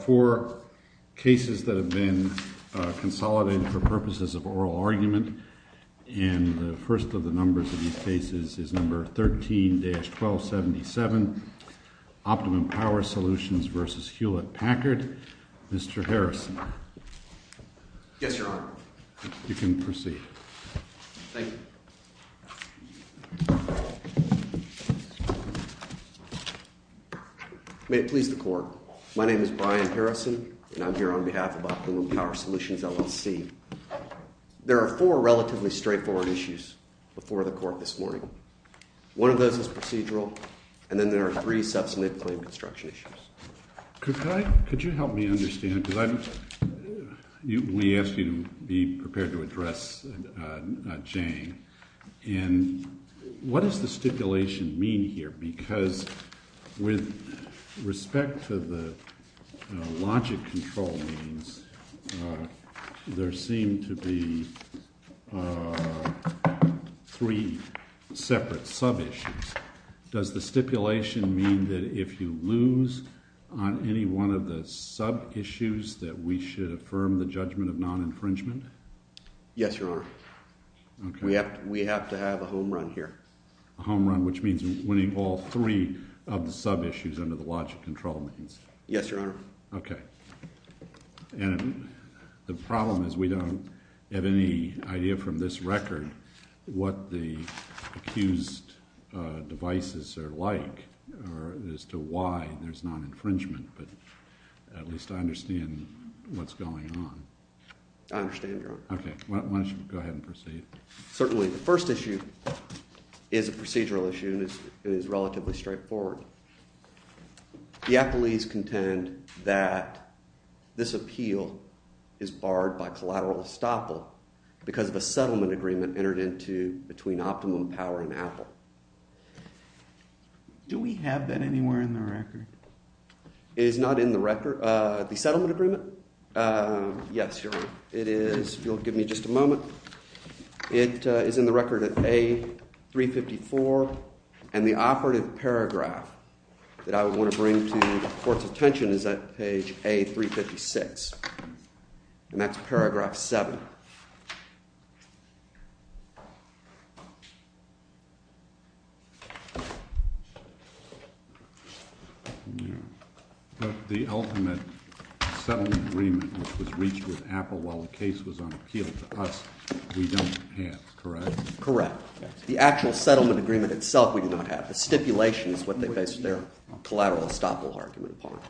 Four cases that have been consolidated for purposes of oral argument. And the first of the numbers of these cases is number 13-1277, OPTIMUM POWER SOLUTIONS v. HULETT PACKARD. Mr. Harrison. Yes, Your Honor. You can proceed. Thank you. May it please the Court. My name is Brian Harrison, and I'm here on behalf of OPTIMUM POWER SOLUTIONS LLC. There are four relatively straightforward issues before the Court this morning. One of those is procedural, and then there are three substantive claim construction issues. Could you help me understand? We asked you to be prepared to address Jane. And what does the stipulation mean here? Because with respect to the logic control means, there seem to be three separate sub-issues. Does the stipulation mean that if you lose on any one of the sub-issues that we should affirm the judgment of non-infringement? Yes, Your Honor. We have to have a home run here. A home run, which means winning all three of the sub-issues under the logic control means. Yes, Your Honor. Okay. And the problem is we don't have any idea from this record what the accused devices are like as to why there's non-infringement. But at least I understand what's going on. I understand, Your Honor. Okay. Why don't you go ahead and proceed. Certainly the first issue is a procedural issue, and it is relatively straightforward. The appellees contend that this appeal is barred by collateral estoppel because of a settlement agreement entered into between Optimum Power and Apple. Do we have that anywhere in the record? It is not in the record. The settlement agreement? Yes, Your Honor. If you'll give me just a moment. It is in the record at A354, and the operative paragraph that I would want to bring to the Court's attention is at page A356, and that's paragraph 7. But the ultimate settlement agreement which was reached with Apple while the case was on appeal to us, we don't have, correct? Correct. The actual settlement agreement itself we do not have. The stipulation is what they base their collateral estoppel argument upon.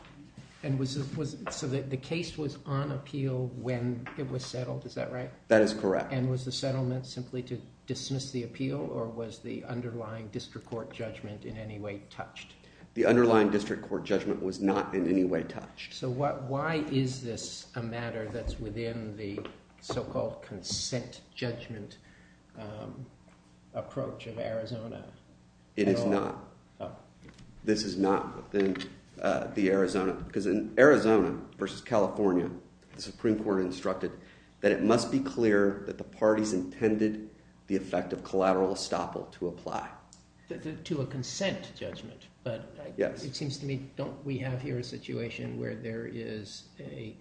And was it so that the case was on appeal when it was settled? Is that right? Correct. That is correct. And was the settlement simply to dismiss the appeal, or was the underlying district court judgment in any way touched? The underlying district court judgment was not in any way touched. So why is this a matter that's within the so-called consent judgment approach of Arizona? It is not. This is not within the Arizona. Because in Arizona versus California, the Supreme Court instructed that it must be clear that the parties intended the effect of collateral estoppel to apply. To a consent judgment. Yes. But it seems to me don't we have here a situation where there is a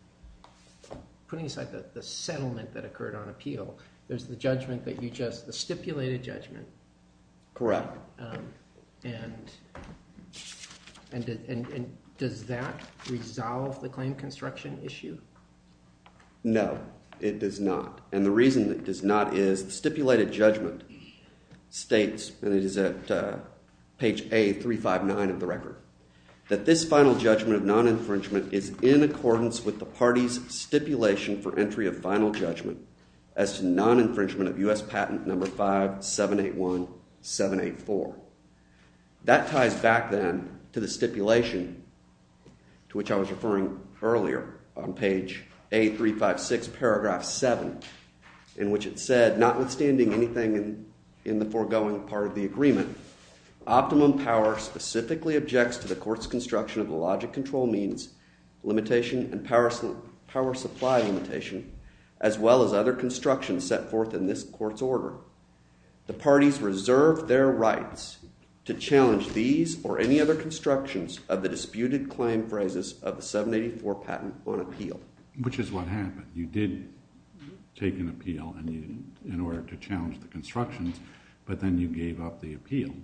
– putting aside the settlement that occurred on appeal, there's the judgment that you just – the stipulated judgment. Correct. And does that resolve the claim construction issue? No. It does not. And the reason it does not is the stipulated judgment states – and it is at page A359 of the record – that this final judgment of non-infringement is in accordance with the party's stipulation for entry of final judgment as to non-infringement of U.S. patent number 5781-784. That ties back then to the stipulation to which I was referring earlier on page A356, paragraph 7, in which it said, notwithstanding anything in the foregoing part of the agreement, optimum power specifically objects to the court's construction of a logic control means limitation and power supply limitation as well as other construction set forth in this court's order. The parties reserve their rights to challenge these or any other constructions of the disputed claim phrases of the 784 patent on appeal. Which is what happened. You did take an appeal in order to challenge the constructions, but then you gave up the appeal.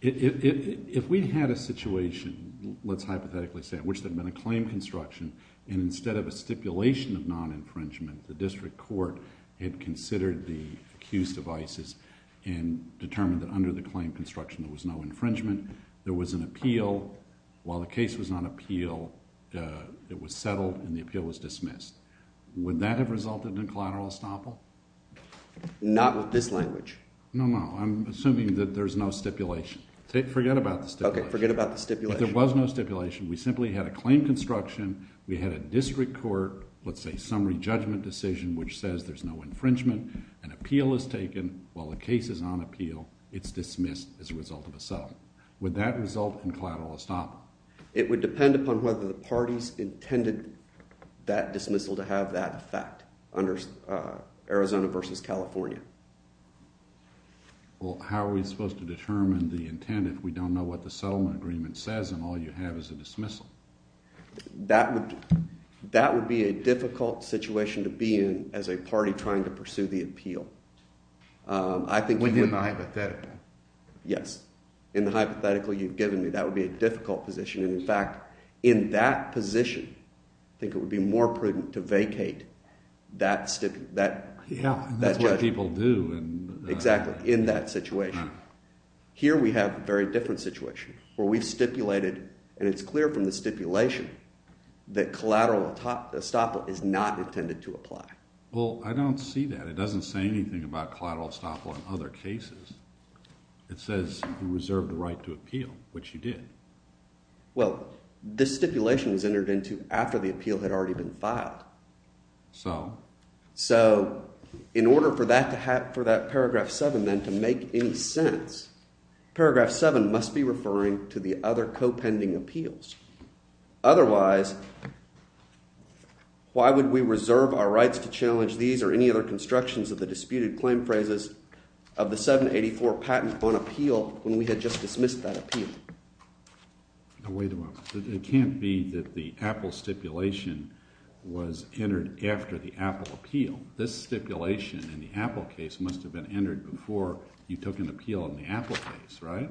If we had a situation, let's hypothetically say, in which there had been a claim construction and instead of a stipulation of non-infringement, the district court had considered the accused of ISIS and determined that under the claim construction there was no infringement. There was an appeal. While the case was on appeal, it was settled and the appeal was dismissed. Would that have resulted in collateral estoppel? Not with this language. No, no. I'm assuming that there's no stipulation. Forget about the stipulation. Okay, forget about the stipulation. But there was no stipulation. We simply had a claim construction. We had a district court, let's say, summary judgment decision, which says there's no infringement. An appeal is taken. While the case is on appeal, it's dismissed as a result of a settlement. Would that result in collateral estoppel? It would depend upon whether the parties intended that dismissal to have that effect under Arizona versus California. Well, how are we supposed to determine the intent if we don't know what the settlement agreement says and all you have is a dismissal? That would be a difficult situation to be in as a party trying to pursue the appeal. Within the hypothetical? Yes. In the hypothetical you've given me, that would be a difficult position. And, in fact, in that position, I think it would be more prudent to vacate that judgment. Yeah, and that's what people do. Exactly, in that situation. Here we have a very different situation where we've stipulated, and it's clear from the stipulation, that collateral estoppel is not intended to apply. Well, I don't see that. It doesn't say anything about collateral estoppel in other cases. It says you reserve the right to appeal, which you did. Well, this stipulation was entered into after the appeal had already been filed. So? So in order for that paragraph 7, then, to make any sense, paragraph 7 must be referring to the other co-pending appeals. Otherwise, why would we reserve our rights to challenge these or any other constructions of the disputed claim phrases of the 784 patent on appeal when we had just dismissed that appeal? Now, wait a moment. It can't be that the Apple stipulation was entered after the Apple appeal. This stipulation in the Apple case must have been entered before you took an appeal in the Apple case, right?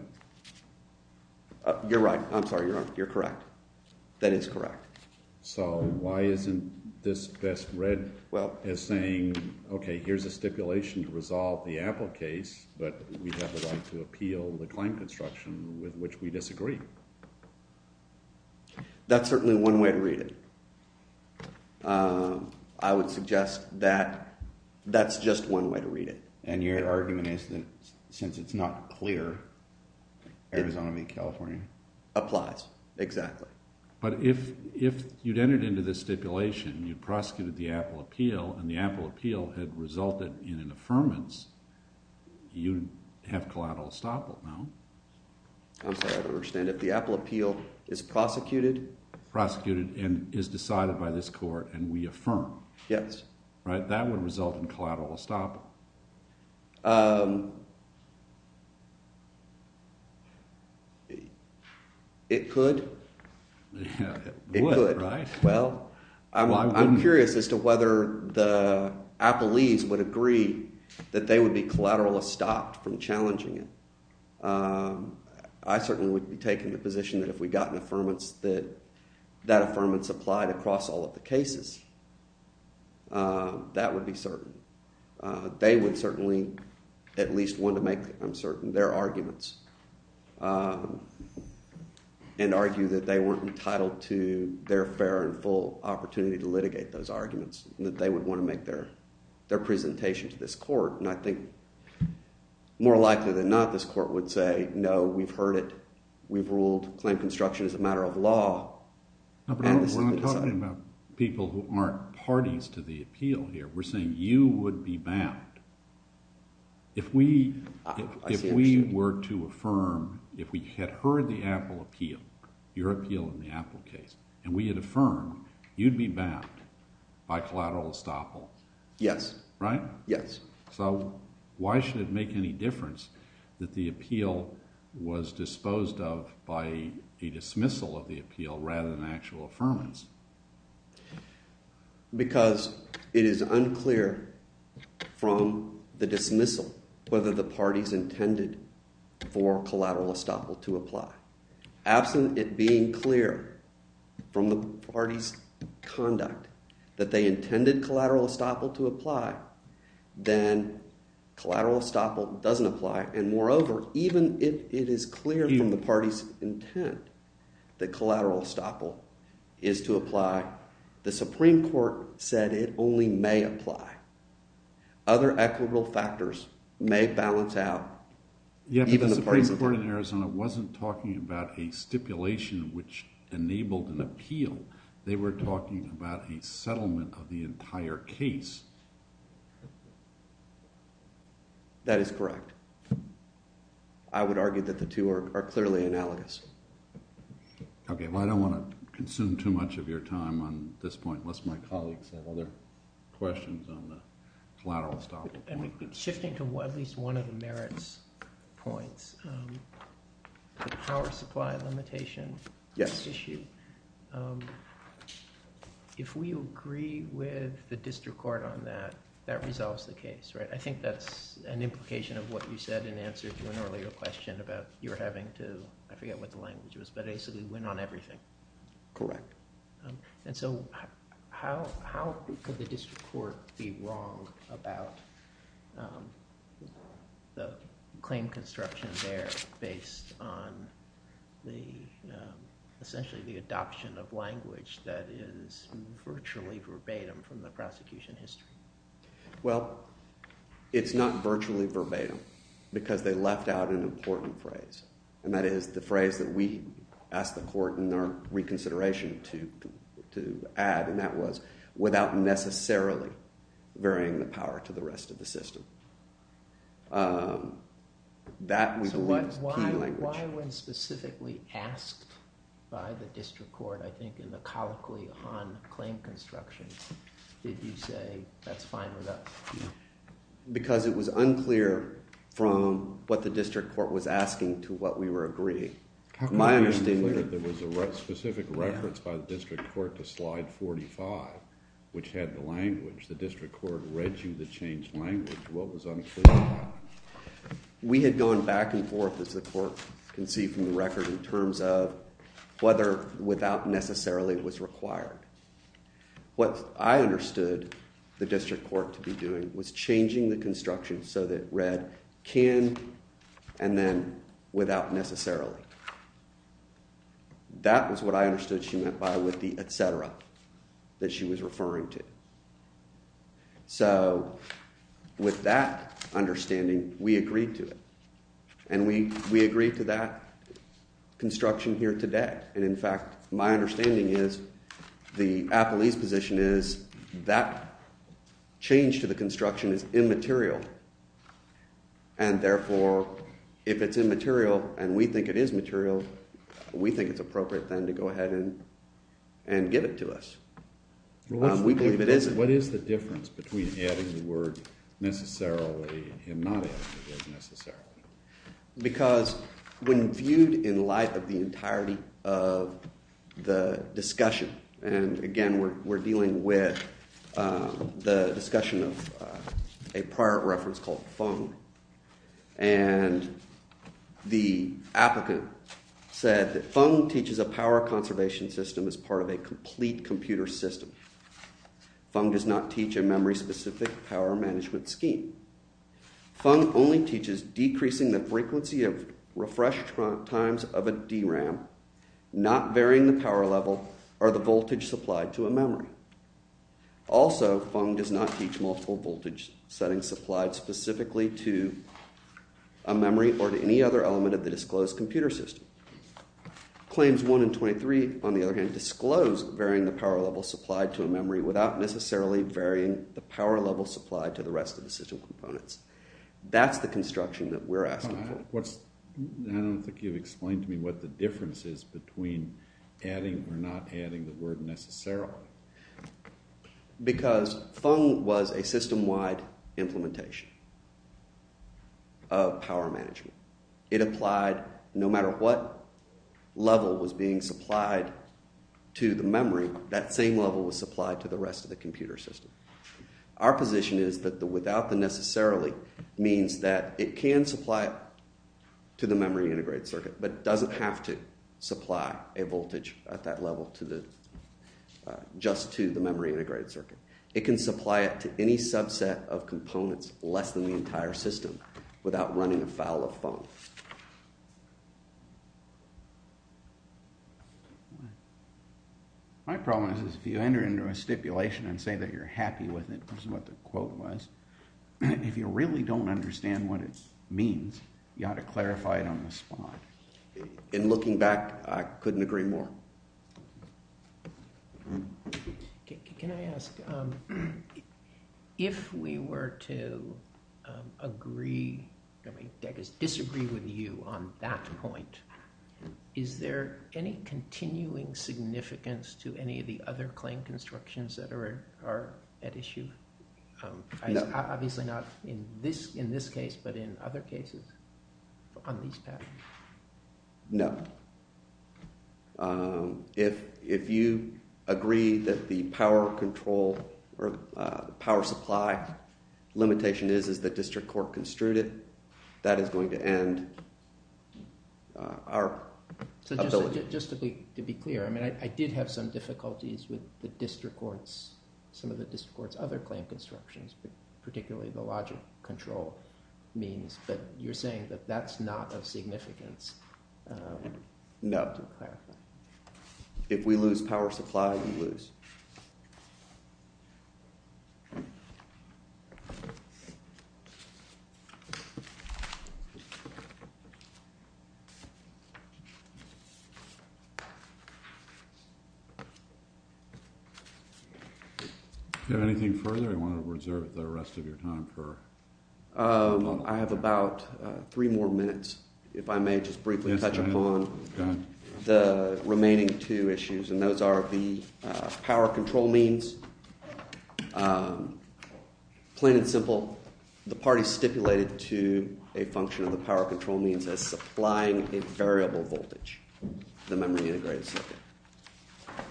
You're right. I'm sorry, you're correct. That is correct. So why isn't this best read as saying, okay, here's a stipulation to resolve the Apple case, but we have the right to appeal the claim construction with which we disagree? That's certainly one way to read it. I would suggest that that's just one way to read it. And your argument is that since it's not clear, Arizona meets California? Applies. Exactly. But if you'd entered into this stipulation, you prosecuted the Apple appeal, and the Apple appeal had resulted in an affirmance, you'd have collateral estoppel, no? I'm sorry, I don't understand. If the Apple appeal is prosecuted? Prosecuted and is decided by this court and we affirm. Yes. Right? That would result in collateral estoppel. It could. It would, right? Well, I'm curious as to whether the Applees would agree that they would be collateral estopped from challenging it. I certainly would be taking the position that if we got an affirmance that that affirmance applied across all of the cases, that would be certain. They would certainly at least want to make, I'm certain, their arguments and argue that they weren't entitled to their fair and full opportunity to litigate those arguments and that they would want to make their presentation to this court. And I think more likely than not, this court would say, no, we've heard it. We've ruled claim construction is a matter of law. No, but we're not talking about people who aren't parties to the appeal here. We're saying you would be bound. If we were to affirm, if we had heard the Apple appeal, your appeal in the Apple case, and we had affirmed, you'd be bound by collateral estoppel. Yes. Right? Yes. So why should it make any difference that the appeal was disposed of by a dismissal of the appeal rather than actual affirmance? Because it is unclear from the dismissal whether the parties intended for collateral estoppel to apply. The Supreme Court said it only may apply. Other equitable factors may balance out. The Supreme Court in Arizona wasn't talking about a stipulation which enabled an appeal. They were talking about a settlement of the entire case. That is correct. I would argue that the two are clearly analogous. Okay, well, I don't want to consume too much of your time on this point unless my colleagues have other questions on the collateral estoppel. Shifting to at least one of the merits points, the power supply limitation issue, if we agree with the district court on that, that resolves the case, right? I think that's an implication of what you said in answer to an earlier question about your having to, I forget what the language was, but basically win on everything. Correct. And so how could the district court be wrong about the claim construction there based on the, essentially, the adoption of language that is virtually verbatim from the prosecution history? Well, it's not virtually verbatim because they left out an important phrase, and that is the phrase that we asked the court in their reconsideration to add, and that was, without necessarily varying the power to the rest of the system. So why when specifically asked by the district court, I think in the colloquy on claim construction, did you say that's fine with us? Because it was unclear from what the district court was asking to what we were agreeing. My understanding is that there was a specific reference by the district court to slide 45, which had the language. The district court read you the changed language. What was unclear about it? We had gone back and forth, as the court can see from the record, in terms of whether without necessarily was required. What I understood the district court to be doing was changing the construction so that it read can and then without necessarily. That was what I understood she meant by with the et cetera that she was referring to. So with that understanding, we agreed to it, and we agreed to that construction here today. And in fact, my understanding is the appellee's position is that change to the construction is immaterial. And therefore, if it's immaterial and we think it is material, we think it's appropriate then to go ahead and get it to us. We believe it is. What is the difference between adding the word necessarily and not adding the word necessarily? Because when viewed in light of the entirety of the discussion, and again, we're dealing with the discussion of a prior reference called Fung. And the applicant said that Fung teaches a power conservation system as part of a complete computer system. Fung does not teach a memory-specific power management scheme. Fung only teaches decreasing the frequency of refresh times of a DRAM, not varying the power level or the voltage supplied to a memory. Also, Fung does not teach multiple voltage settings supplied specifically to a memory or to any other element of the disclosed computer system. Claims 1 and 23, on the other hand, disclose varying the power level supplied to a memory without necessarily varying the power level supplied to the rest of the system components. That's the construction that we're asking for. I don't think you've explained to me what the difference is between adding or not adding the word necessarily. Because Fung was a system-wide implementation of power management. It applied no matter what level was being supplied to the memory, that same level was supplied to the rest of the computer system. Our position is that the without the necessarily means that it can supply to the memory integrated circuit, but doesn't have to supply a voltage at that level just to the memory integrated circuit. It can supply it to any subset of components less than the entire system without running afoul of Fung. My problem is if you enter into a stipulation and say that you're happy with it, which is what the quote was, if you really don't understand what it means, you ought to clarify it on the spot. In looking back, I couldn't agree more. Can I ask, if we were to disagree with you on that point, is there any continuing significance to any of the other claim constructions that are at issue? Obviously not in this case, but in other cases on these patterns? No. If you agree that the power control or power supply limitation is as the district court construed it, that is going to end our ability. Just to be clear, I did have some difficulties with some of the district court's other claim constructions, particularly the logic control means, but you're saying that that's not of significance? No. If we lose power supply, we lose. Do you have anything further you want to reserve the rest of your time for? I have about three more minutes, if I may just briefly touch upon the remaining two issues, and those are the power control means. Plain and simple, the parties stipulated to a function of the power control means as supplying a variable voltage to the memory integrated circuit.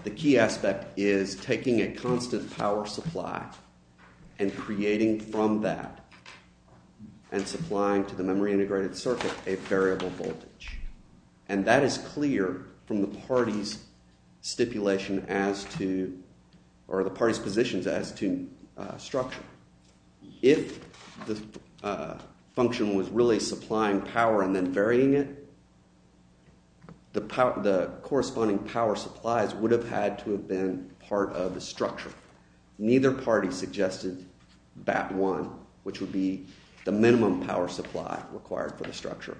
The key aspect is taking a constant power supply and creating from that and supplying to the memory integrated circuit a variable voltage. And that is clear from the party's stipulation as to – or the party's positions as to structure. If the function was really supplying power and then varying it, the corresponding power supplies would have had to have been part of the structure. Neither party suggested that one, which would be the minimum power supply required for the structure.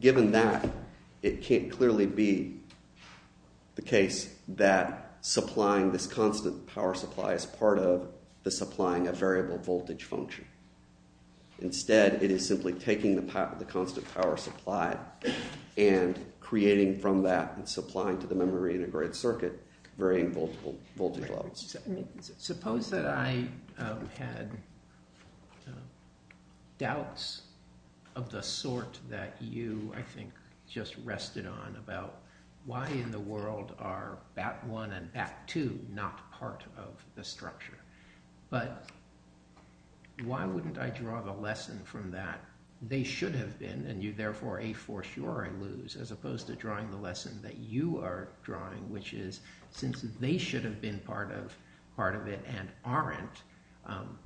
Given that, it can't clearly be the case that supplying this constant power supply is part of the supplying a variable voltage function. Instead, it is simply taking the constant power supply and creating from that and supplying to the memory integrated circuit varying voltage levels. Suppose that I had doubts of the sort that you, I think, just rested on about why in the world are BAT1 and BAT2 not part of the structure? But why wouldn't I draw the lesson from that they should have been and you therefore a force you or I lose as opposed to drawing the lesson that you are drawing, which is since they should have been part of it and aren't,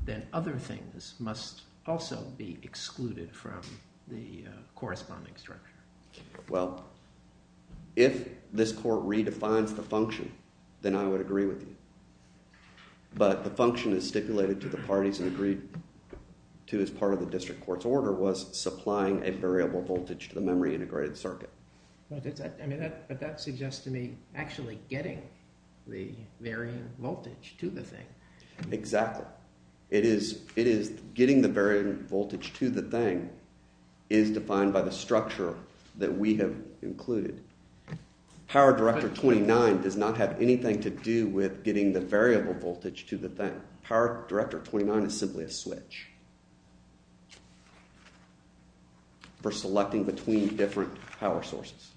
then other things must also be excluded from the corresponding structure. Well, if this court redefines the function, then I would agree with you. But the function is stipulated to the parties and agreed to as part of the district court's order was supplying a variable voltage to the memory integrated circuit. But that suggests to me actually getting the varying voltage to the thing. Exactly. It is getting the varying voltage to the thing is defined by the structure that we have included. Power Director 29 does not have anything to do with getting the variable voltage to the thing. Power Director 29 is simply a switch for selecting between different power sources.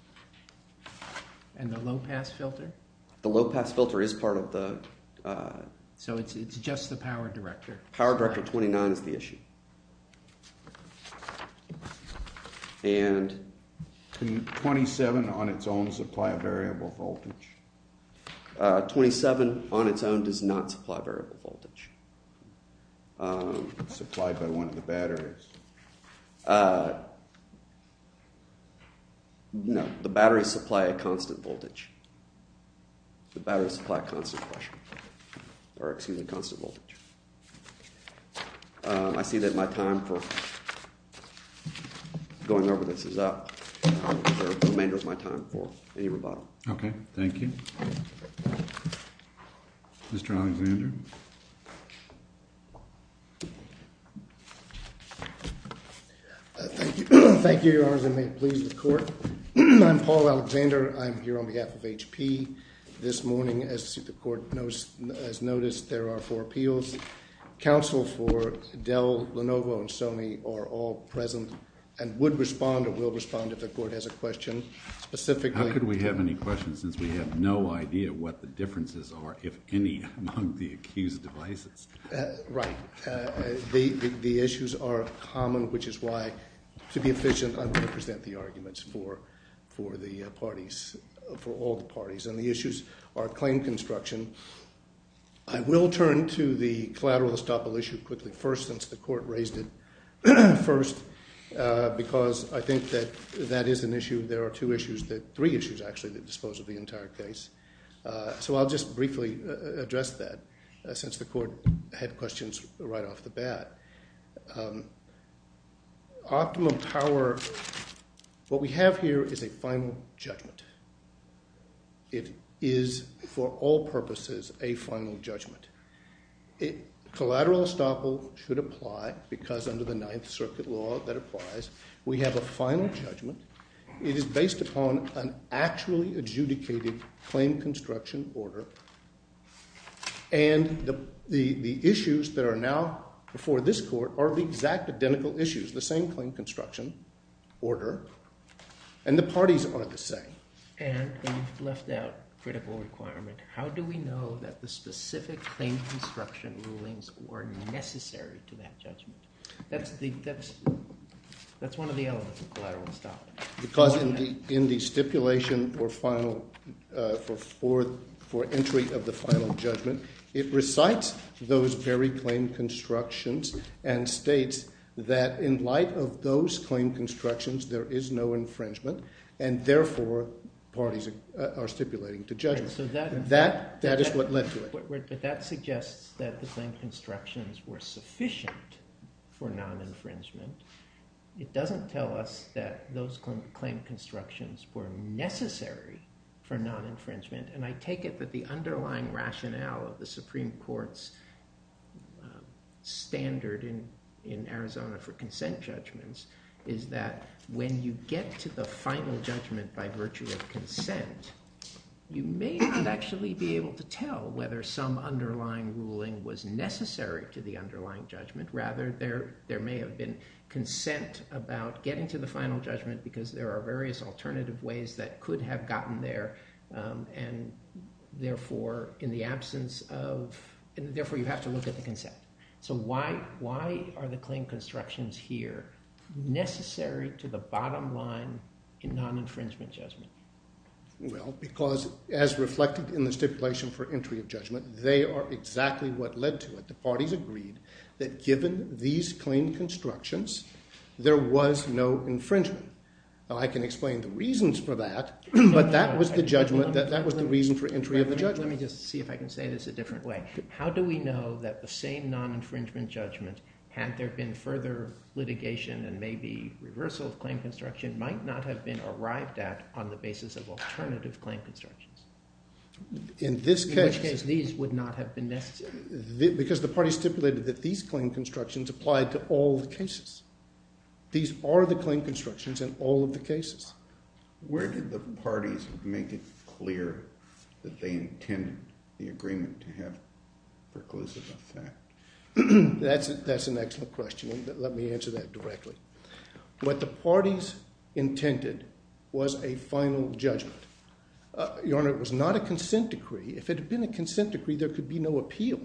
And the low pass filter? The low pass filter is part of the… So it's just the Power Director? Power Director 29 is the issue. And can 27 on its own supply a variable voltage? 27 on its own does not supply a variable voltage. Supplied by one of the batteries? No. The batteries supply a constant voltage. The batteries supply a constant voltage. I see that my time for going over this is up. The remainder of my time for any rebuttal. Okay. Thank you. Mr. Alexander? Thank you, Your Honors, and may it please the Court. I'm Paul Alexander. I'm here on behalf of HP. This morning, as the Court has noticed, there are four appeals. Counsel for Dell, Lenovo, and Sony are all present and would respond or will respond if the Court has a question specifically. How could we have any questions since we have no idea what the differences are, if any, among the accused devices? Right. The issues are common, which is why, to be efficient, I'm going to present the arguments for the parties, for all the parties. And the issues are claim construction. I will turn to the collateral estoppel issue quickly first since the Court raised it first because I think that that is an issue. There are two issues that—three issues, actually, that dispose of the entire case. So I'll just briefly address that since the Court had questions right off the bat. Optimum power—what we have here is a final judgment. It is, for all purposes, a final judgment. Collateral estoppel should apply because, under the Ninth Circuit law that applies, we have a final judgment. It is based upon an actually adjudicated claim construction order. And the issues that are now before this Court are the exact identical issues, the same claim construction order, and the parties are the same. And you've left out critical requirement. How do we know that the specific claim construction rulings were necessary to that judgment? That's one of the elements of collateral estoppel. Because in the stipulation for final—for entry of the final judgment, it recites those very claim constructions and states that in light of those claim constructions, there is no infringement. And therefore, parties are stipulating to judgment. That is what led to it. But that suggests that the claim constructions were sufficient for non-infringement. It doesn't tell us that those claim constructions were necessary for non-infringement. And I take it that the underlying rationale of the Supreme Court's standard in Arizona for consent judgments is that when you get to the final judgment by virtue of consent, you may not actually be able to tell whether some underlying ruling was necessary to the underlying judgment. Rather, there may have been consent about getting to the final judgment because there are various alternative ways that could have gotten there. And therefore, in the absence of—and therefore, you have to look at the consent. So why are the claim constructions here necessary to the bottom line in non-infringement judgment? Well, because as reflected in the stipulation for entry of judgment, they are exactly what led to it. The parties agreed that given these claim constructions, there was no infringement. Now, I can explain the reasons for that, but that was the judgment—that was the reason for entry of the judgment. Let me just see if I can say this a different way. How do we know that the same non-infringement judgment, had there been further litigation and maybe reversal of claim construction, might not have been arrived at on the basis of alternative claim constructions? In this case— In which case these would not have been necessary. Because the parties stipulated that these claim constructions applied to all the cases. These are the claim constructions in all of the cases. Where did the parties make it clear that they intended the agreement to have preclusive effect? That's an excellent question. Let me answer that directly. What the parties intended was a final judgment. Your Honor, it was not a consent decree. If it had been a consent decree, there could be no appeal.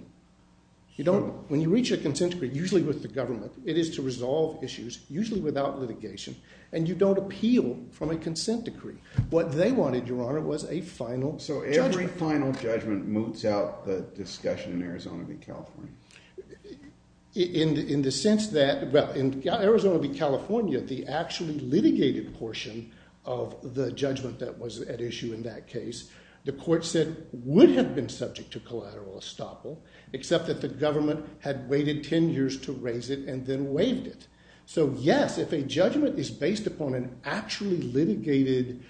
You don't—when you reach a consent decree, usually with the government, it is to resolve issues, usually without litigation. And you don't appeal from a consent decree. What they wanted, Your Honor, was a final judgment. So every final judgment moves out the discussion in Arizona v. California? In the sense that—well, in Arizona v. California, the actually litigated portion of the judgment that was at issue in that case, the court said would have been subject to collateral estoppel, except that the government had waited 10 years to raise it and then waived it. So yes, if a judgment is based upon an actually litigated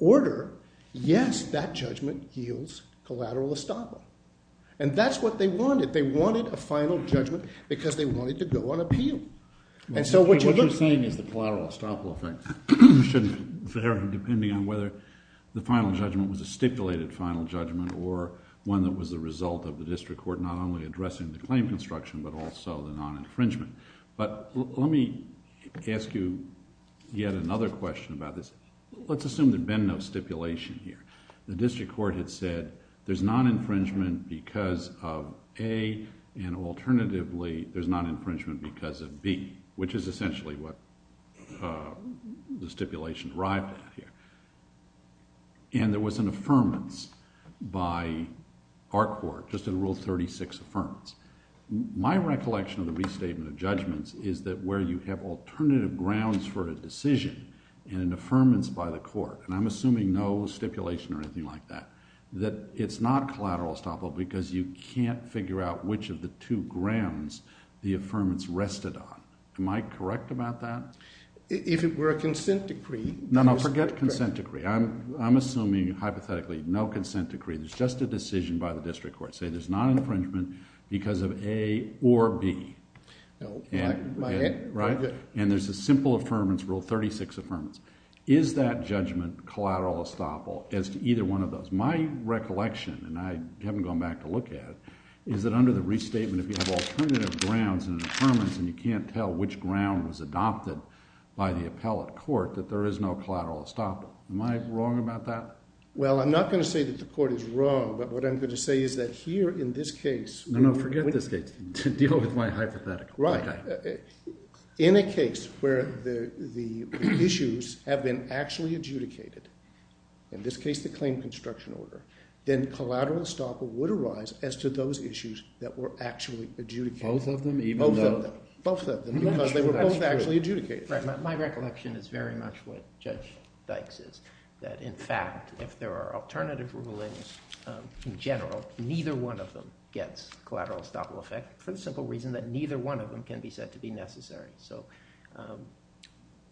order, yes, that judgment yields collateral estoppel. And that's what they wanted. They wanted a final judgment because they wanted to go on appeal. And so what you're looking— What you're saying is the collateral estoppel effect should vary depending on whether the final judgment was a stipulated final judgment or one that was the result of the district court not only addressing the claim construction but also the non-infringement. But let me ask you yet another question about this. Let's assume there had been no stipulation here. The district court had said there's non-infringement because of A, and alternatively, there's non-infringement because of B, which is essentially what the stipulation arrived at here. And there was an affirmance by our court, just in Rule 36 Affirmance. My recollection of the restatement of judgments is that where you have alternative grounds for a decision and an affirmance by the court— and I'm assuming no stipulation or anything like that— that it's not collateral estoppel because you can't figure out which of the two grounds the affirmance rested on. Am I correct about that? If it were a consent decree— No, no, forget consent decree. I'm assuming hypothetically no consent decree. There's just a decision by the district court to say there's non-infringement because of A or B. Right. And there's a simple affirmance, Rule 36 Affirmance. Is that judgment collateral estoppel as to either one of those? My recollection, and I haven't gone back to look at it, is that under the restatement, if you have alternative grounds and an affirmance and you can't tell which ground was adopted by the appellate court, that there is no collateral estoppel. Am I wrong about that? Well, I'm not going to say that the court is wrong, but what I'm going to say is that here in this case— No, no, forget this case. Deal with my hypothetical. Right. In a case where the issues have been actually adjudicated, in this case the claim construction order, then collateral estoppel would arise as to those issues that were actually adjudicated. Both of them, even though— Both of them, because they were both actually adjudicated. Right. My recollection is very much what Judge Dykes is, that in fact, if there are alternative rulings in general, neither one of them gets collateral estoppel effect for the simple reason that neither one of them can be said to be necessary.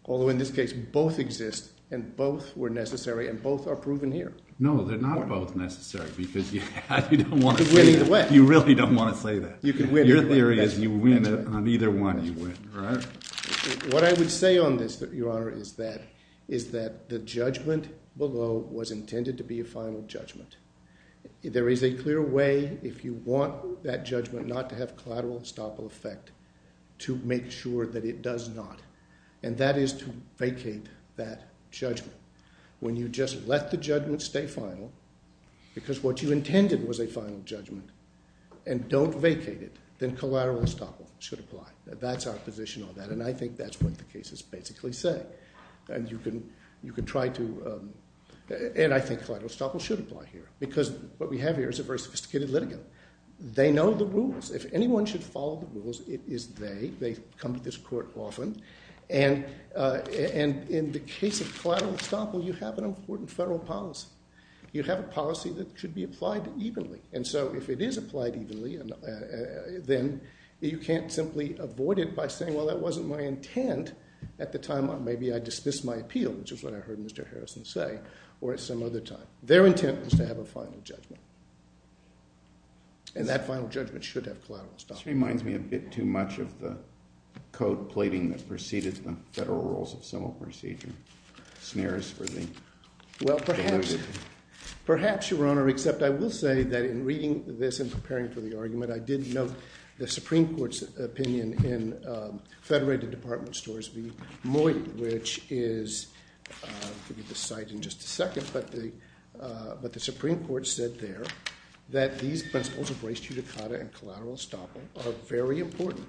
Although in this case, both exist and both were necessary and both are proven here. No, they're not both necessary because you don't want to say that. You really don't want to say that. Your theory is you win on either one, you win. Right. What I would say on this, Your Honor, is that the judgment below was intended to be a final judgment. There is a clear way, if you want that judgment not to have collateral estoppel effect, to make sure that it does not, and that is to vacate that judgment. When you just let the judgment stay final because what you intended was a final judgment and don't vacate it, then collateral estoppel should apply. That's our position on that, and I think that's what the cases basically say. And you can try to, and I think collateral estoppel should apply here because what we have here is a very sophisticated litigant. They know the rules. If anyone should follow the rules, it is they. They come to this court often, and in the case of collateral estoppel, you have an important federal policy. You have a policy that should be applied evenly. And so if it is applied evenly, then you can't simply avoid it by saying, well, that wasn't my intent at the time. Maybe I dismissed my appeal, which is what I heard Mr. Harrison say, or at some other time. Their intent was to have a final judgment, and that final judgment should have collateral estoppel. This reminds me a bit too much of the code plating that preceded the federal rules of civil procedure. Snares for the- Well, perhaps, perhaps, Your Honor, except I will say that in reading this and preparing for the argument, I did note the Supreme Court's opinion in Federated Department Stories v. Moy, which is, I'll give you the cite in just a second, but the Supreme Court said there that these principles of race, judicata, and collateral estoppel are very important.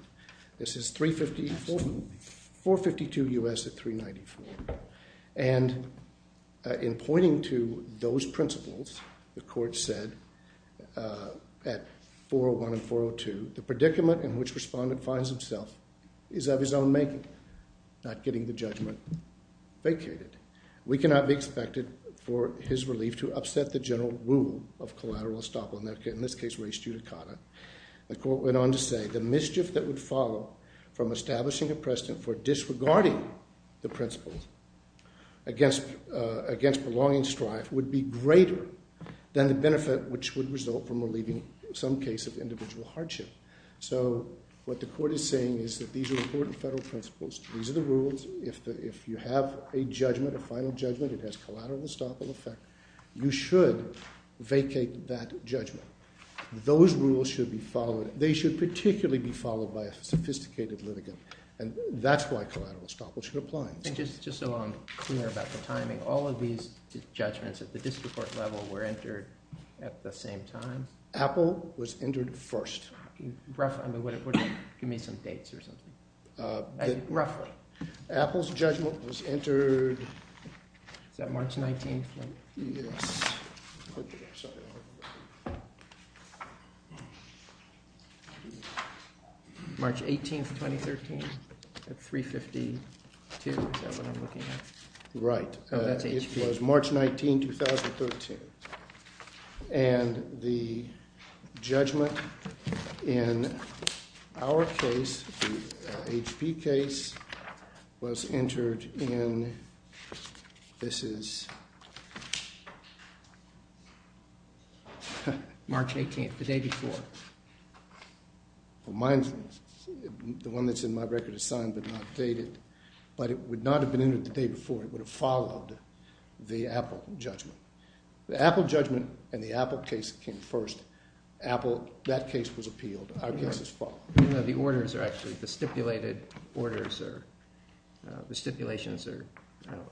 This is 452 U.S. at 394. And in pointing to those principles, the court said at 401 and 402, the predicament in which respondent finds himself is of his own making, not getting the judgment vacated. We cannot be expected for his relief to upset the general rule of collateral estoppel, in this case race judicata. The court went on to say the mischief that would follow from establishing a precedent for disregarding the principles against belonging and strife would be greater than the benefit which would result from relieving some case of individual hardship. So what the court is saying is that these are important federal principles. These are the rules. If you have a judgment, a final judgment that has collateral estoppel effect, you should vacate that judgment. Those rules should be followed. They should particularly be followed by a sophisticated litigant, and that's why collateral estoppel should apply. And just so I'm clear about the timing, all of these judgments at the district court level were entered at the same time? Apple was entered first. Roughly. I mean, would you give me some dates or something? Roughly. Apple's judgment was entered... Is that March 19th? Yes. March 18th, 2013 at 3.52? Is that what I'm looking at? Right. Oh, that's HP. March 19th, 2013, and the judgment in our case, the HP case, was entered in... This is... March 18th, the day before. Well, mine's...the one that's in my record is signed but not dated. But it would not have been entered the day before. It would have followed the Apple judgment. The Apple judgment and the Apple case came first. Apple...that case was appealed. Our case is followed. No, the orders are actually...the stipulated orders are...the stipulations are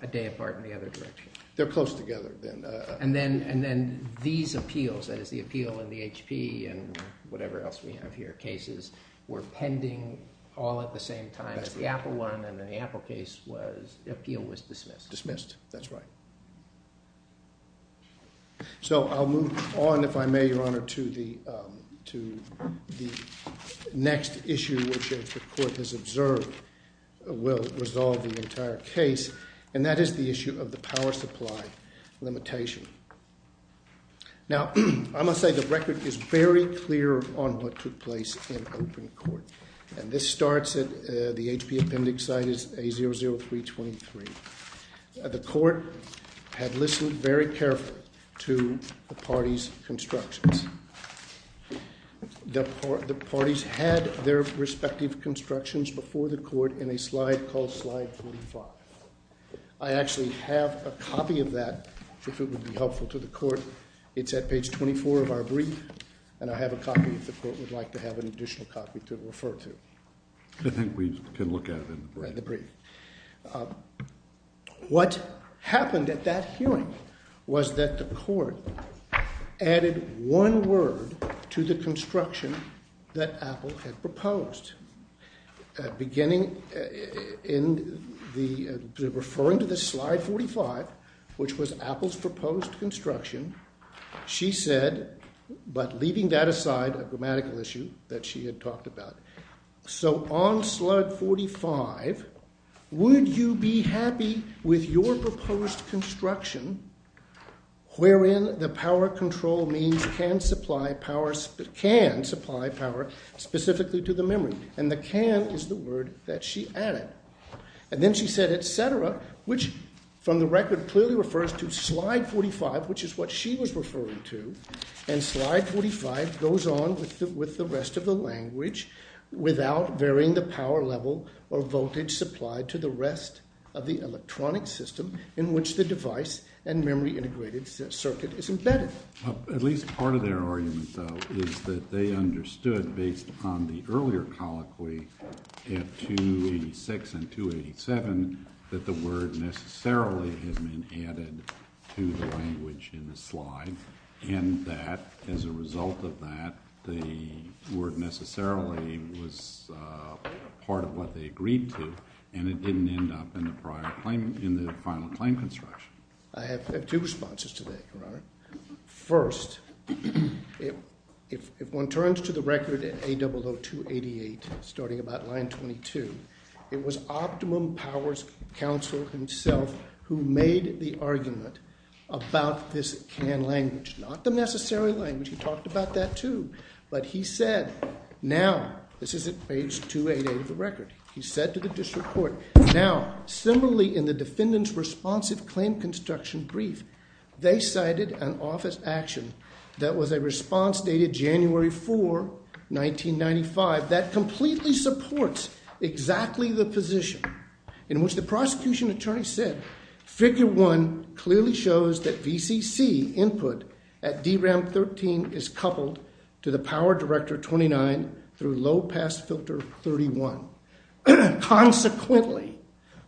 a day apart in the other direction. They're close together then. And then these appeals, that is the appeal in the HP and whatever else we have here, cases, were pending all at the same time. That's correct. The Apple one and then the Apple case was...the appeal was dismissed. Dismissed. That's right. So I'll move on, if I may, Your Honor, to the next issue which the court has observed will resolve the entire case, and that is the issue of the power supply limitation. Now, I must say the record is very clear on what took place in open court. And this starts at...the HP appendix site is A00323. The court had listened very carefully to the parties' constructions. The parties had their respective constructions before the court in a slide called slide 45. I actually have a copy of that if it would be helpful to the court. It's at page 24 of our brief, and I have a copy if the court would like to have an additional copy to refer to. I think we can look at it in the brief. In the brief. What happened at that hearing was that the court added one word to the construction that Apple had proposed. Beginning in the...referring to the slide 45, which was Apple's proposed construction, she said, but leaving that aside, a grammatical issue that she had talked about, so on slide 45, would you be happy with your proposed construction wherein the power control means can supply power specifically to the memory? And the can is the word that she added. And then she said, et cetera, which from the record clearly refers to slide 45, which is what she was referring to, and slide 45 goes on with the rest of the language without varying the power level or voltage supplied to the rest of the electronic system in which the device and memory integrated circuit is embedded. At least part of their argument, though, is that they understood based upon the earlier colloquy at 286 and 287 that the word necessarily has been added to the language in the slide, and that as a result of that, the word necessarily was part of what they agreed to, and it didn't end up in the final claim construction. I have two responses to that, Your Honor. First, if one turns to the record at A00288, starting about line 22, it was Optimum Powers Counsel himself who made the argument about this can language, not the necessary language. He talked about that, too, but he said, now, this is at page 288 of the record. He said to the district court, now, similarly in the defendant's responsive claim construction brief, they cited an office action that was a response dated January 4, 1995, that completely supports exactly the position in which the prosecution attorney said, Figure 1 clearly shows that VCC input at DRAM 13 is coupled to the power director 29 through low pass filter 31. Consequently,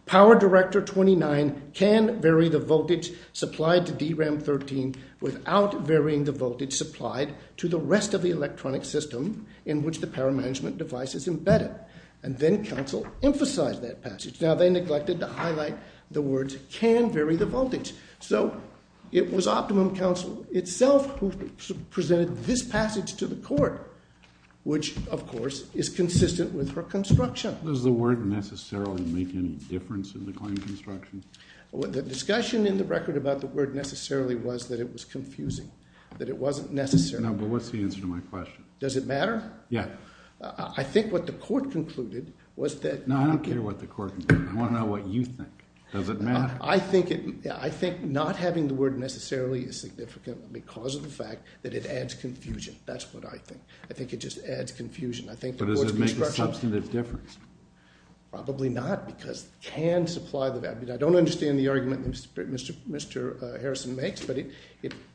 power director 29 can vary the voltage supplied to DRAM 13 without varying the voltage supplied to the rest of the electronic system in which the power management device is embedded, and then counsel emphasized that passage. Now, they neglected to highlight the words can vary the voltage, so it was Optimum Counsel itself who presented this passage to the court, which, of course, is consistent with her construction. Does the word necessarily make any difference in the claim construction? The discussion in the record about the word necessarily was that it was confusing, that it wasn't necessary. No, but what's the answer to my question? Does it matter? Yeah. I think what the court concluded was that- No, I don't care what the court concluded. I want to know what you think. Does it matter? I think not having the word necessarily is significant because of the fact that it adds confusion. That's what I think. I think it just adds confusion. I think the court's construction- But does it make a substantive difference? Probably not because it can supply the value. I don't understand the argument that Mr. Harrison makes, but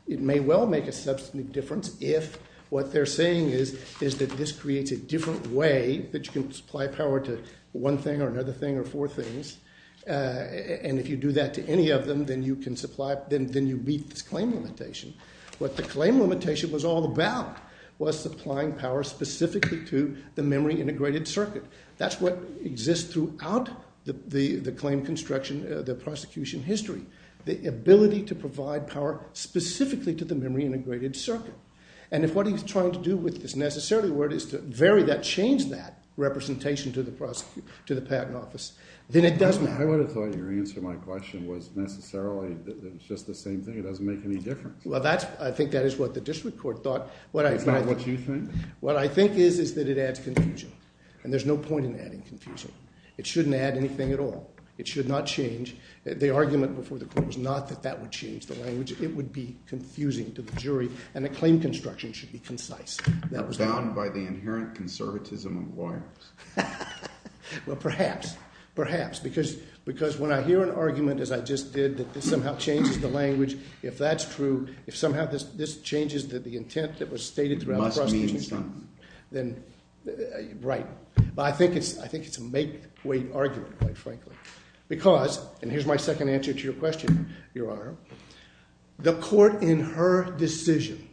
it may well make a substantive difference if what they're saying is that this creates a different way that you can supply power to one thing or another thing or four things, and if you do that to any of them, then you can supply, then you beat this claim limitation. What the claim limitation was all about was supplying power specifically to the memory-integrated circuit. That's what exists throughout the claim construction, the prosecution history, the ability to provide power specifically to the memory-integrated circuit. And if what he's trying to do with this necessarily word is to vary that, change that representation to the patent office, then it does matter. I would have thought your answer to my question was necessarily that it's just the same thing. It doesn't make any difference. Well, I think that is what the district court thought. It's not what you think? What I think is is that it adds confusion, and there's no point in adding confusion. It shouldn't add anything at all. It should not change. The argument before the court was not that that would change the language. It would be confusing to the jury, and the claim construction should be concise. Bound by the inherent conservatism of lawyers. Well, perhaps. Perhaps. Because when I hear an argument, as I just did, that this somehow changes the language, if that's true, if somehow this changes the intent that was stated throughout the prosecution, then right. But I think it's a make-weight argument, quite frankly. Because, and here's my second answer to your question, Your Honor, the court in her decision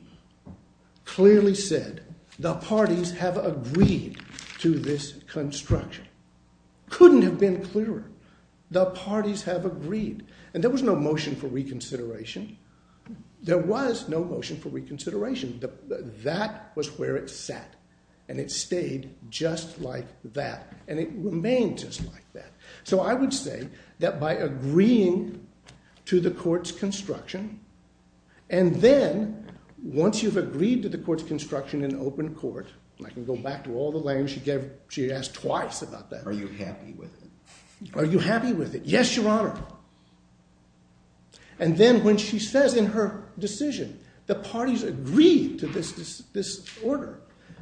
clearly said the parties have agreed to this construction. Couldn't have been clearer. The parties have agreed. And there was no motion for reconsideration. There was no motion for reconsideration. That was where it sat, and it stayed just like that, and it remains just like that. So I would say that by agreeing to the court's construction, and then once you've agreed to the court's construction in open court, and I can go back to all the language she gave. She asked twice about that. Are you happy with it? Are you happy with it? Yes, Your Honor. And then when she says in her decision, the parties agreed to this order,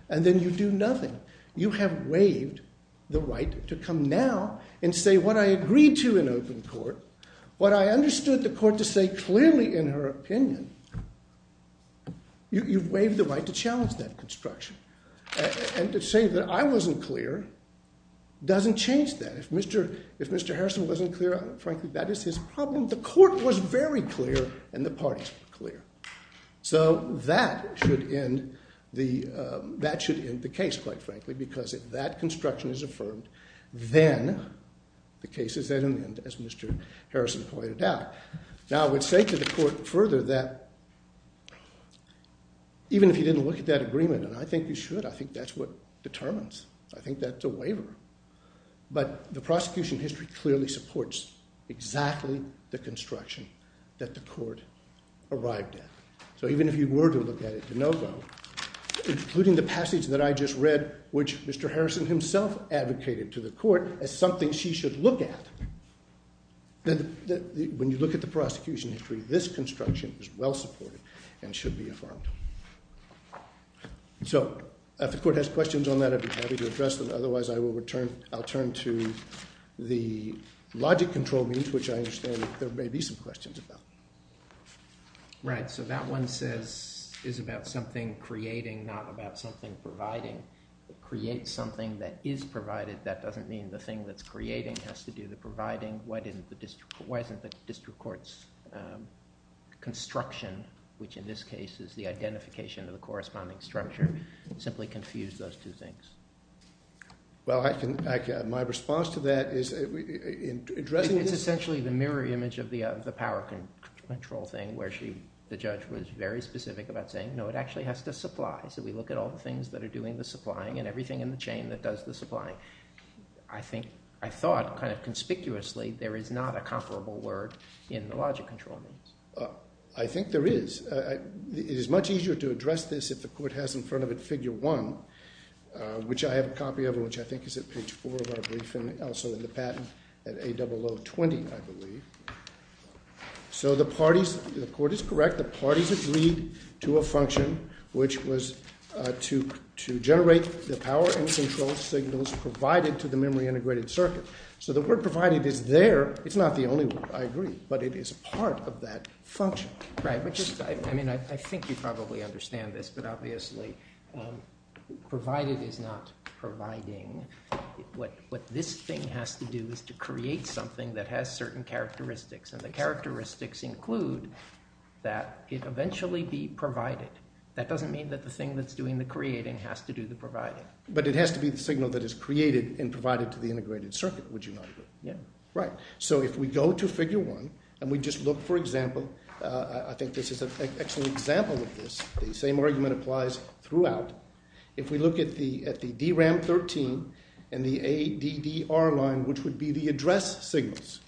and then you do nothing. You have waived the right to come now and say what I agreed to in open court, what I understood the court to say clearly in her opinion, you've waived the right to challenge that construction. And to say that I wasn't clear doesn't change that. If Mr. Harrison wasn't clear, frankly, that is his problem. The court was very clear, and the parties were clear. So that should end the case, quite frankly, because if that construction is affirmed, then the case is at an end as Mr. Harrison pointed out. Now I would say to the court further that even if you didn't look at that agreement, and I think you should. I think that's what determines. I think that's a waiver. But the prosecution history clearly supports exactly the construction that the court arrived at. So even if you were to look at it to no avail, including the passage that I just read, which Mr. Harrison himself advocated to the court as something she should look at, when you look at the prosecution history, this construction is well supported and should be affirmed. So if the court has questions on that, I'd be happy to address them. Otherwise, I'll turn to the logic control means, which I understand there may be some questions about. Right. So that one says it's about something creating, not about something providing. Create something that is provided. That doesn't mean the thing that's creating has to do with providing. Why isn't the district court's construction, which in this case is the identification of the corresponding structure, simply confuse those two things? Well, my response to that is in addressing this. This is essentially the mirror image of the power control thing, where the judge was very specific about saying, no, it actually has to supply. So we look at all the things that are doing the supplying and everything in the chain that does the supplying. I thought kind of conspicuously there is not a comparable word in the logic control means. I think there is. It is much easier to address this if the court has in front of it figure one, which I have a copy of and which I think is at page four of our briefing, and also in the patent at A0020, I believe. So the court is correct. The parties agreed to a function, which was to generate the power and control signals provided to the memory integrated circuit. So the word provided is there. It's not the only word. I agree. But it is part of that function. Right. I mean, I think you probably understand this, but obviously provided is not providing. What this thing has to do is to create something that has certain characteristics, and the characteristics include that it eventually be provided. That doesn't mean that the thing that's doing the creating has to do the providing. But it has to be the signal that is created and provided to the integrated circuit, would you argue? Yeah. Right. So if we go to figure one and we just look, for example, I think this is an excellent example of this, the same argument applies throughout. If we look at the DRAM-13 and the ADDR line, which would be the address signals.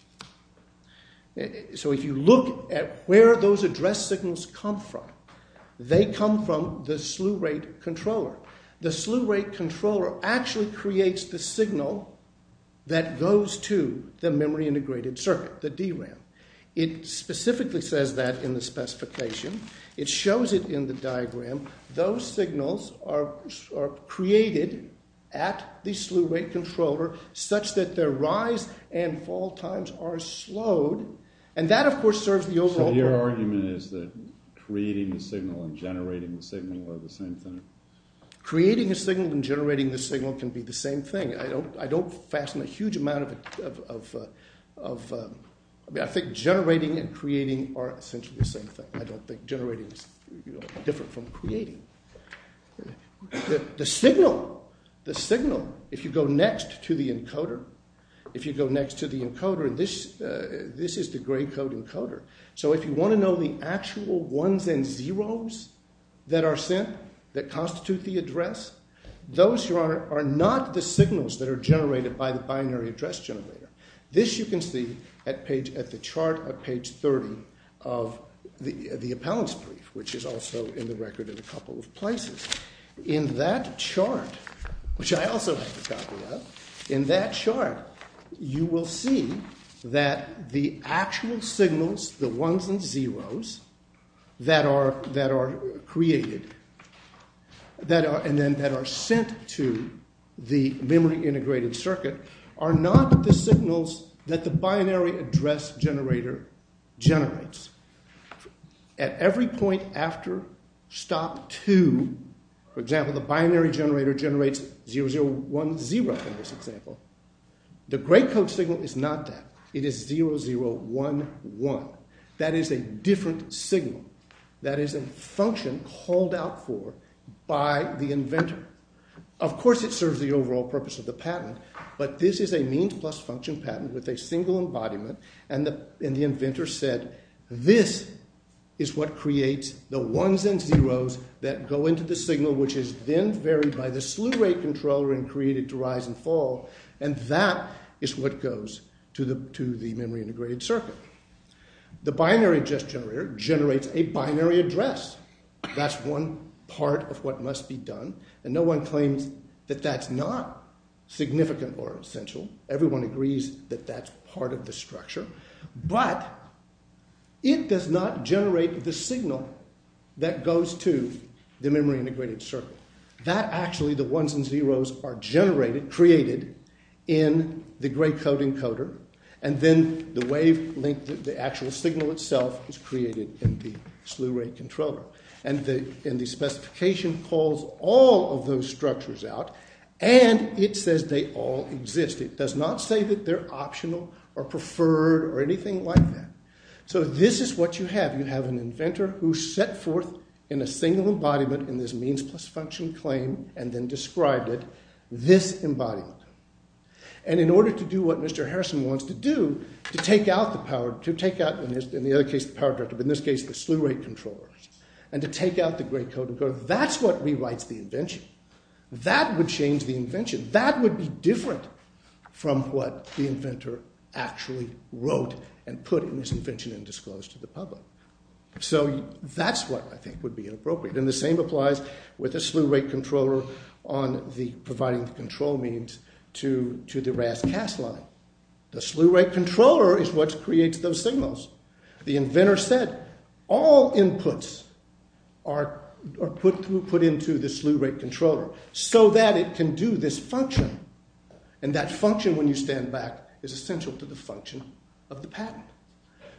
So if you look at where those address signals come from, they come from the slew rate controller. The slew rate controller actually creates the signal that goes to the memory integrated circuit, the DRAM. It specifically says that in the specification. It shows it in the diagram. Those signals are created at the slew rate controller such that their rise and fall times are slowed. And that, of course, serves the overall purpose. So your argument is that creating the signal and generating the signal are the same thing? Creating a signal and generating the signal can be the same thing. I don't fasten a huge amount of – I mean, I think generating and creating are essentially the same thing. I don't think generating is different from creating. The signal, the signal, if you go next to the encoder, if you go next to the encoder, this is the gray code encoder. So if you want to know the actual ones and zeros that are sent that constitute the address, those are not the signals that are generated by the binary address generator. This you can see at the chart at page 30 of the appellant's brief, which is also in the record in a couple of places. In that chart, which I also have a copy of, in that chart you will see that the actual signals, the ones and zeros that are created and then that are sent to the memory integrated circuit are not the signals that the binary address generator generates. At every point after stop two, for example, the binary generator generates 0010 in this example. The gray code signal is not that. It is 0011. That is a different signal. That is a function called out for by the inventor. Of course it serves the overall purpose of the patent, but this is a means plus function patent with a single embodiment, and the inventor said this is what creates the ones and zeros that go into the signal, which is then varied by the slew rate controller and created to rise and fall, and that is what goes to the memory integrated circuit. The binary generator generates a binary address. That is one part of what must be done, and no one claims that that is not significant or essential. Everyone agrees that that is part of the structure, but it does not generate the signal that goes to the memory integrated circuit. The ones and zeros are created in the gray code encoder, and then the actual signal itself is created in the slew rate controller, and the specification calls all of those structures out, and it says they all exist. It does not say that they are optional or preferred or anything like that. So this is what you have. You have an inventor who set forth in a single embodiment in this means plus function claim and then described it, this embodiment, and in order to do what Mr. Harrison wants to do, to take out, in the other case, the power director, but in this case the slew rate controller, and to take out the gray code encoder, that is what rewrites the invention. That would change the invention. That would be different from what the inventor actually wrote and put in this invention and disclosed to the public. So that is what I think would be inappropriate, and the same applies with the slew rate controller on providing the control means to the RAS-CAS line. The slew rate controller is what creates those signals. The inventor said all inputs are put into the slew rate controller so that it can do this function, and that function, when you stand back, is essential to the function of the patent.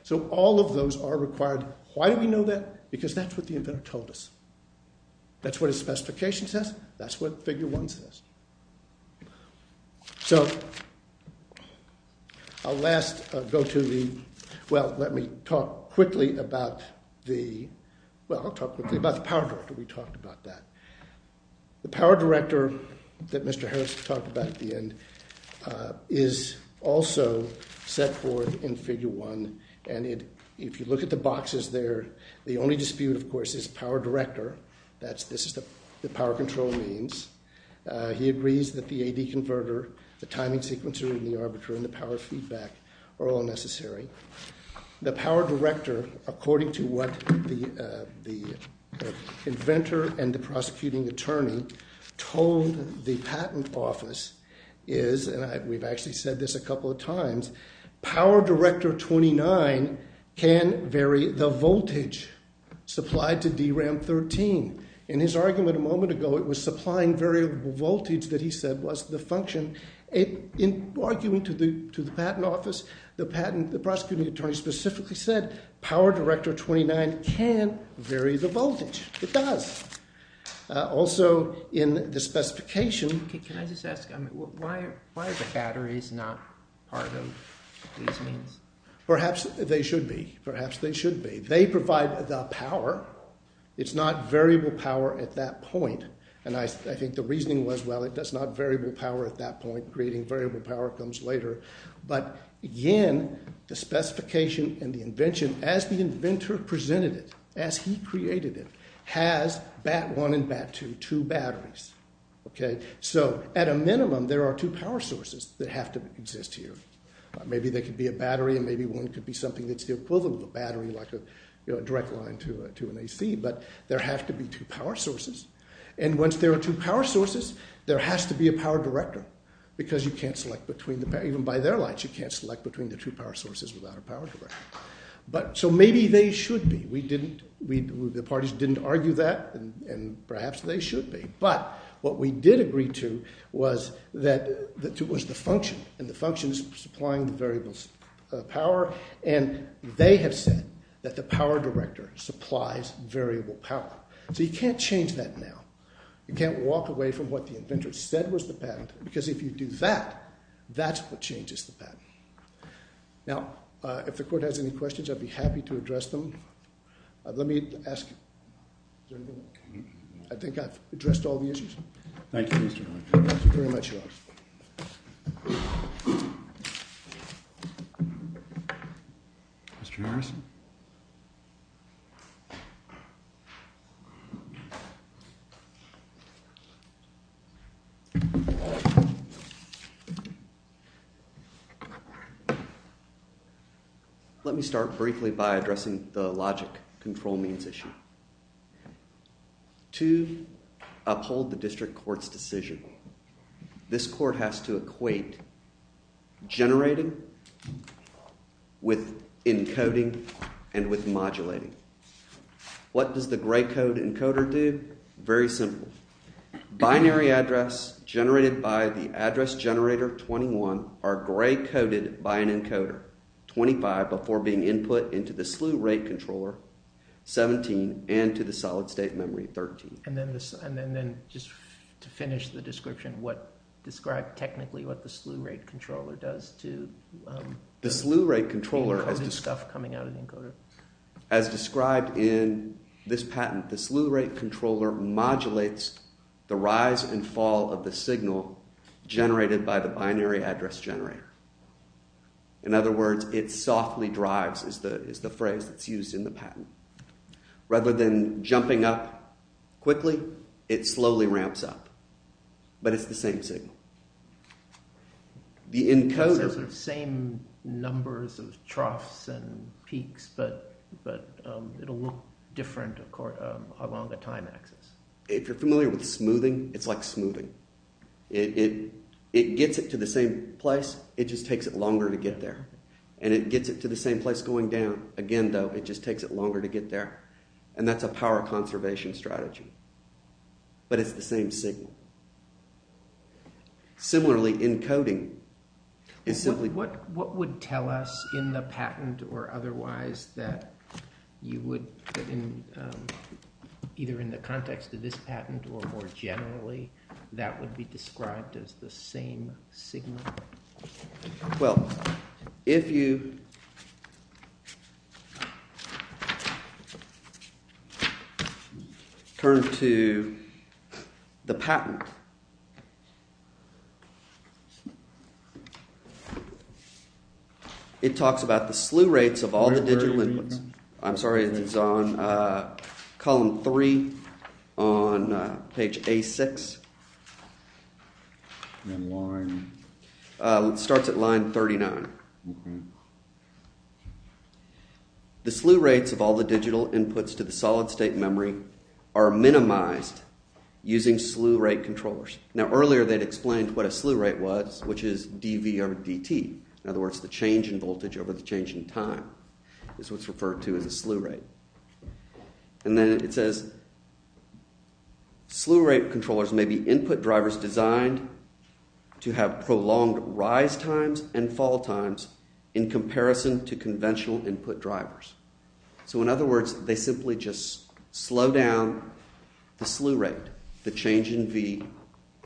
So all of those are required. Why do we know that? Because that's what the inventor told us. That's what his specification says. That's what figure one says. So I'll last go to the—well, let me talk quickly about the power director. We talked about that. The power director that Mr. Harris talked about at the end is also set forth in figure one, and if you look at the boxes there, the only dispute, of course, is power director. This is the power control means. He agrees that the AD converter, the timing sequencer, and the arbiter, and the power feedback are all necessary. The power director, according to what the inventor and the prosecuting attorney told the patent office, is—and we've actually said this a couple of times—power director 29 can vary the voltage supplied to DRAM 13. In his argument a moment ago, it was supplying variable voltage that he said was the function. In arguing to the patent office, the patent—the prosecuting attorney specifically said power director 29 can vary the voltage. It does. Also, in the specification— Can I just ask, why are the batteries not part of these means? Perhaps they should be. Perhaps they should be. They provide the power. It's not variable power at that point. And I think the reasoning was, well, it does not variable power at that point. Creating variable power comes later. But, again, the specification and the invention, as the inventor presented it, as he created it, has BAT 1 and BAT 2, two batteries. So, at a minimum, there are two power sources that have to exist here. Maybe there could be a battery, and maybe one could be something that's the equivalent of a battery, like a direct line to an AC. But there have to be two power sources. And once there are two power sources, there has to be a power director, because you can't select between the— even by their lines, you can't select between the two power sources without a power director. So maybe they should be. We didn't—the parties didn't argue that, and perhaps they should be. But what we did agree to was the function, and the function is supplying the variable power. And they have said that the power director supplies variable power. So you can't change that now. You can't walk away from what the inventor said was the pattern, because if you do that, that's what changes the pattern. Now, if the court has any questions, I'd be happy to address them. Let me ask—I think I've addressed all the issues. Thank you, Mr. Hodge. Thank you very much, Your Honor. Mr. Harris? Thank you. Let me start briefly by addressing the logic control means issue. To uphold the district court's decision, this court has to equate generating with encoding and with modulating. What does the gray code encoder do? Very simple. Binary address generated by the address generator 21 are gray coded by an encoder 25 before being input into the SLU rate controller 17 and to the solid state memory 13. And then just to finish the description, what—describe technically what the SLU rate controller does to— The SLU rate controller— Encoding stuff coming out of the encoder. As described in this patent, the SLU rate controller modulates the rise and fall of the signal generated by the binary address generator. In other words, it softly drives is the phrase that's used in the patent. Rather than jumping up quickly, it slowly ramps up, but it's the same signal. The encoder— But it'll look different, of course, along the time axis. If you're familiar with smoothing, it's like smoothing. It gets it to the same place. It just takes it longer to get there. And it gets it to the same place going down. Again, though, it just takes it longer to get there. And that's a power conservation strategy. But it's the same signal. Similarly, encoding is simply— In the patent or otherwise that you would— Either in the context of this patent or more generally, that would be described as the same signal? Well, if you— Turn to the patent. The patent— It talks about the slew rates of all the digital inputs. I'm sorry, it's on column 3 on page A6. And line— It starts at line 39. Mm-hmm. The slew rates of all the digital inputs to the solid-state memory are minimized using slew rate controllers. Now, earlier they'd explained what a slew rate was, which is dv over dt. In other words, the change in voltage over the change in time is what's referred to as a slew rate. And then it says slew rate controllers may be input drivers designed to have prolonged rise times and fall times in comparison to conventional input drivers. So in other words, they simply just slow down the slew rate, the change in v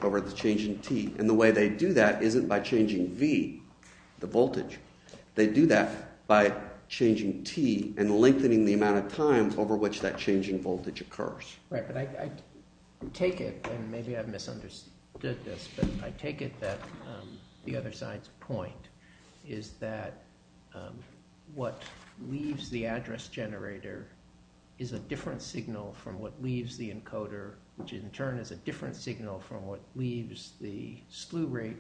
over the change in t. And the way they do that isn't by changing v, the voltage. They do that by changing t and lengthening the amount of times over which that change in voltage occurs. Right, but I take it, and maybe I've misunderstood this, but I take it that the other side's point is that what leaves the address generator is a different signal from what leaves the encoder, which in turn is a different signal from what leaves the slew rate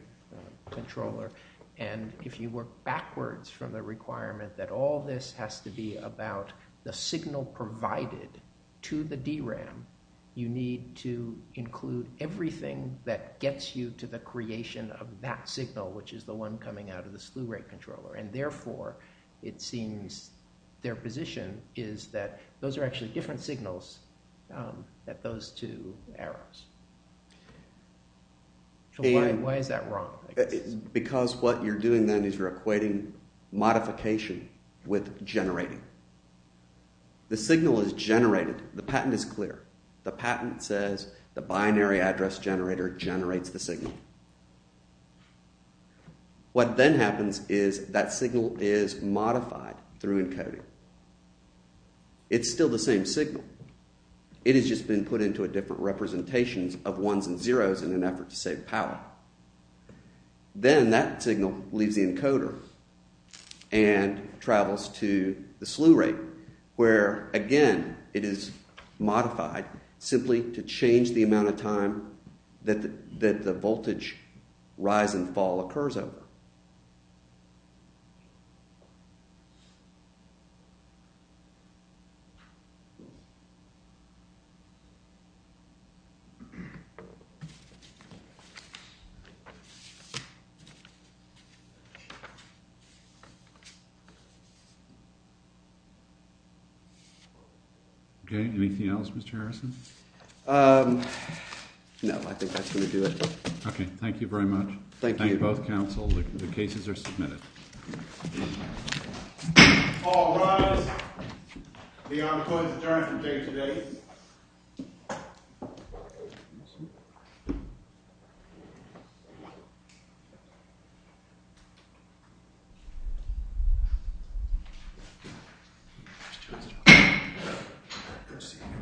controller. And if you work backwards from the requirement that all this has to be about the signal provided to the DRAM, you need to include everything that gets you to the creation of that signal, which is the one coming out of the slew rate controller. And therefore, it seems their position is that those are actually different signals at those two arrows. Why is that wrong? Because what you're doing then is you're equating modification with generating. The signal is generated. The patent is clear. The patent says the binary address generator generates the signal. What then happens is that signal is modified through encoding. It's still the same signal. It has just been put into a different representation of ones and zeros in an effort to save power. Then that signal leaves the encoder and travels to the slew rate, where again it is modified simply to change the amount of time that the voltage rise and fall occurs over. Okay. Anything else, Mr. Harrison? No. I think that's going to do it. Okay. Thank you very much. Thank you. Thank you both, counsel. The cases are submitted. All rise. Leon McCoy is adjourned for today's debate.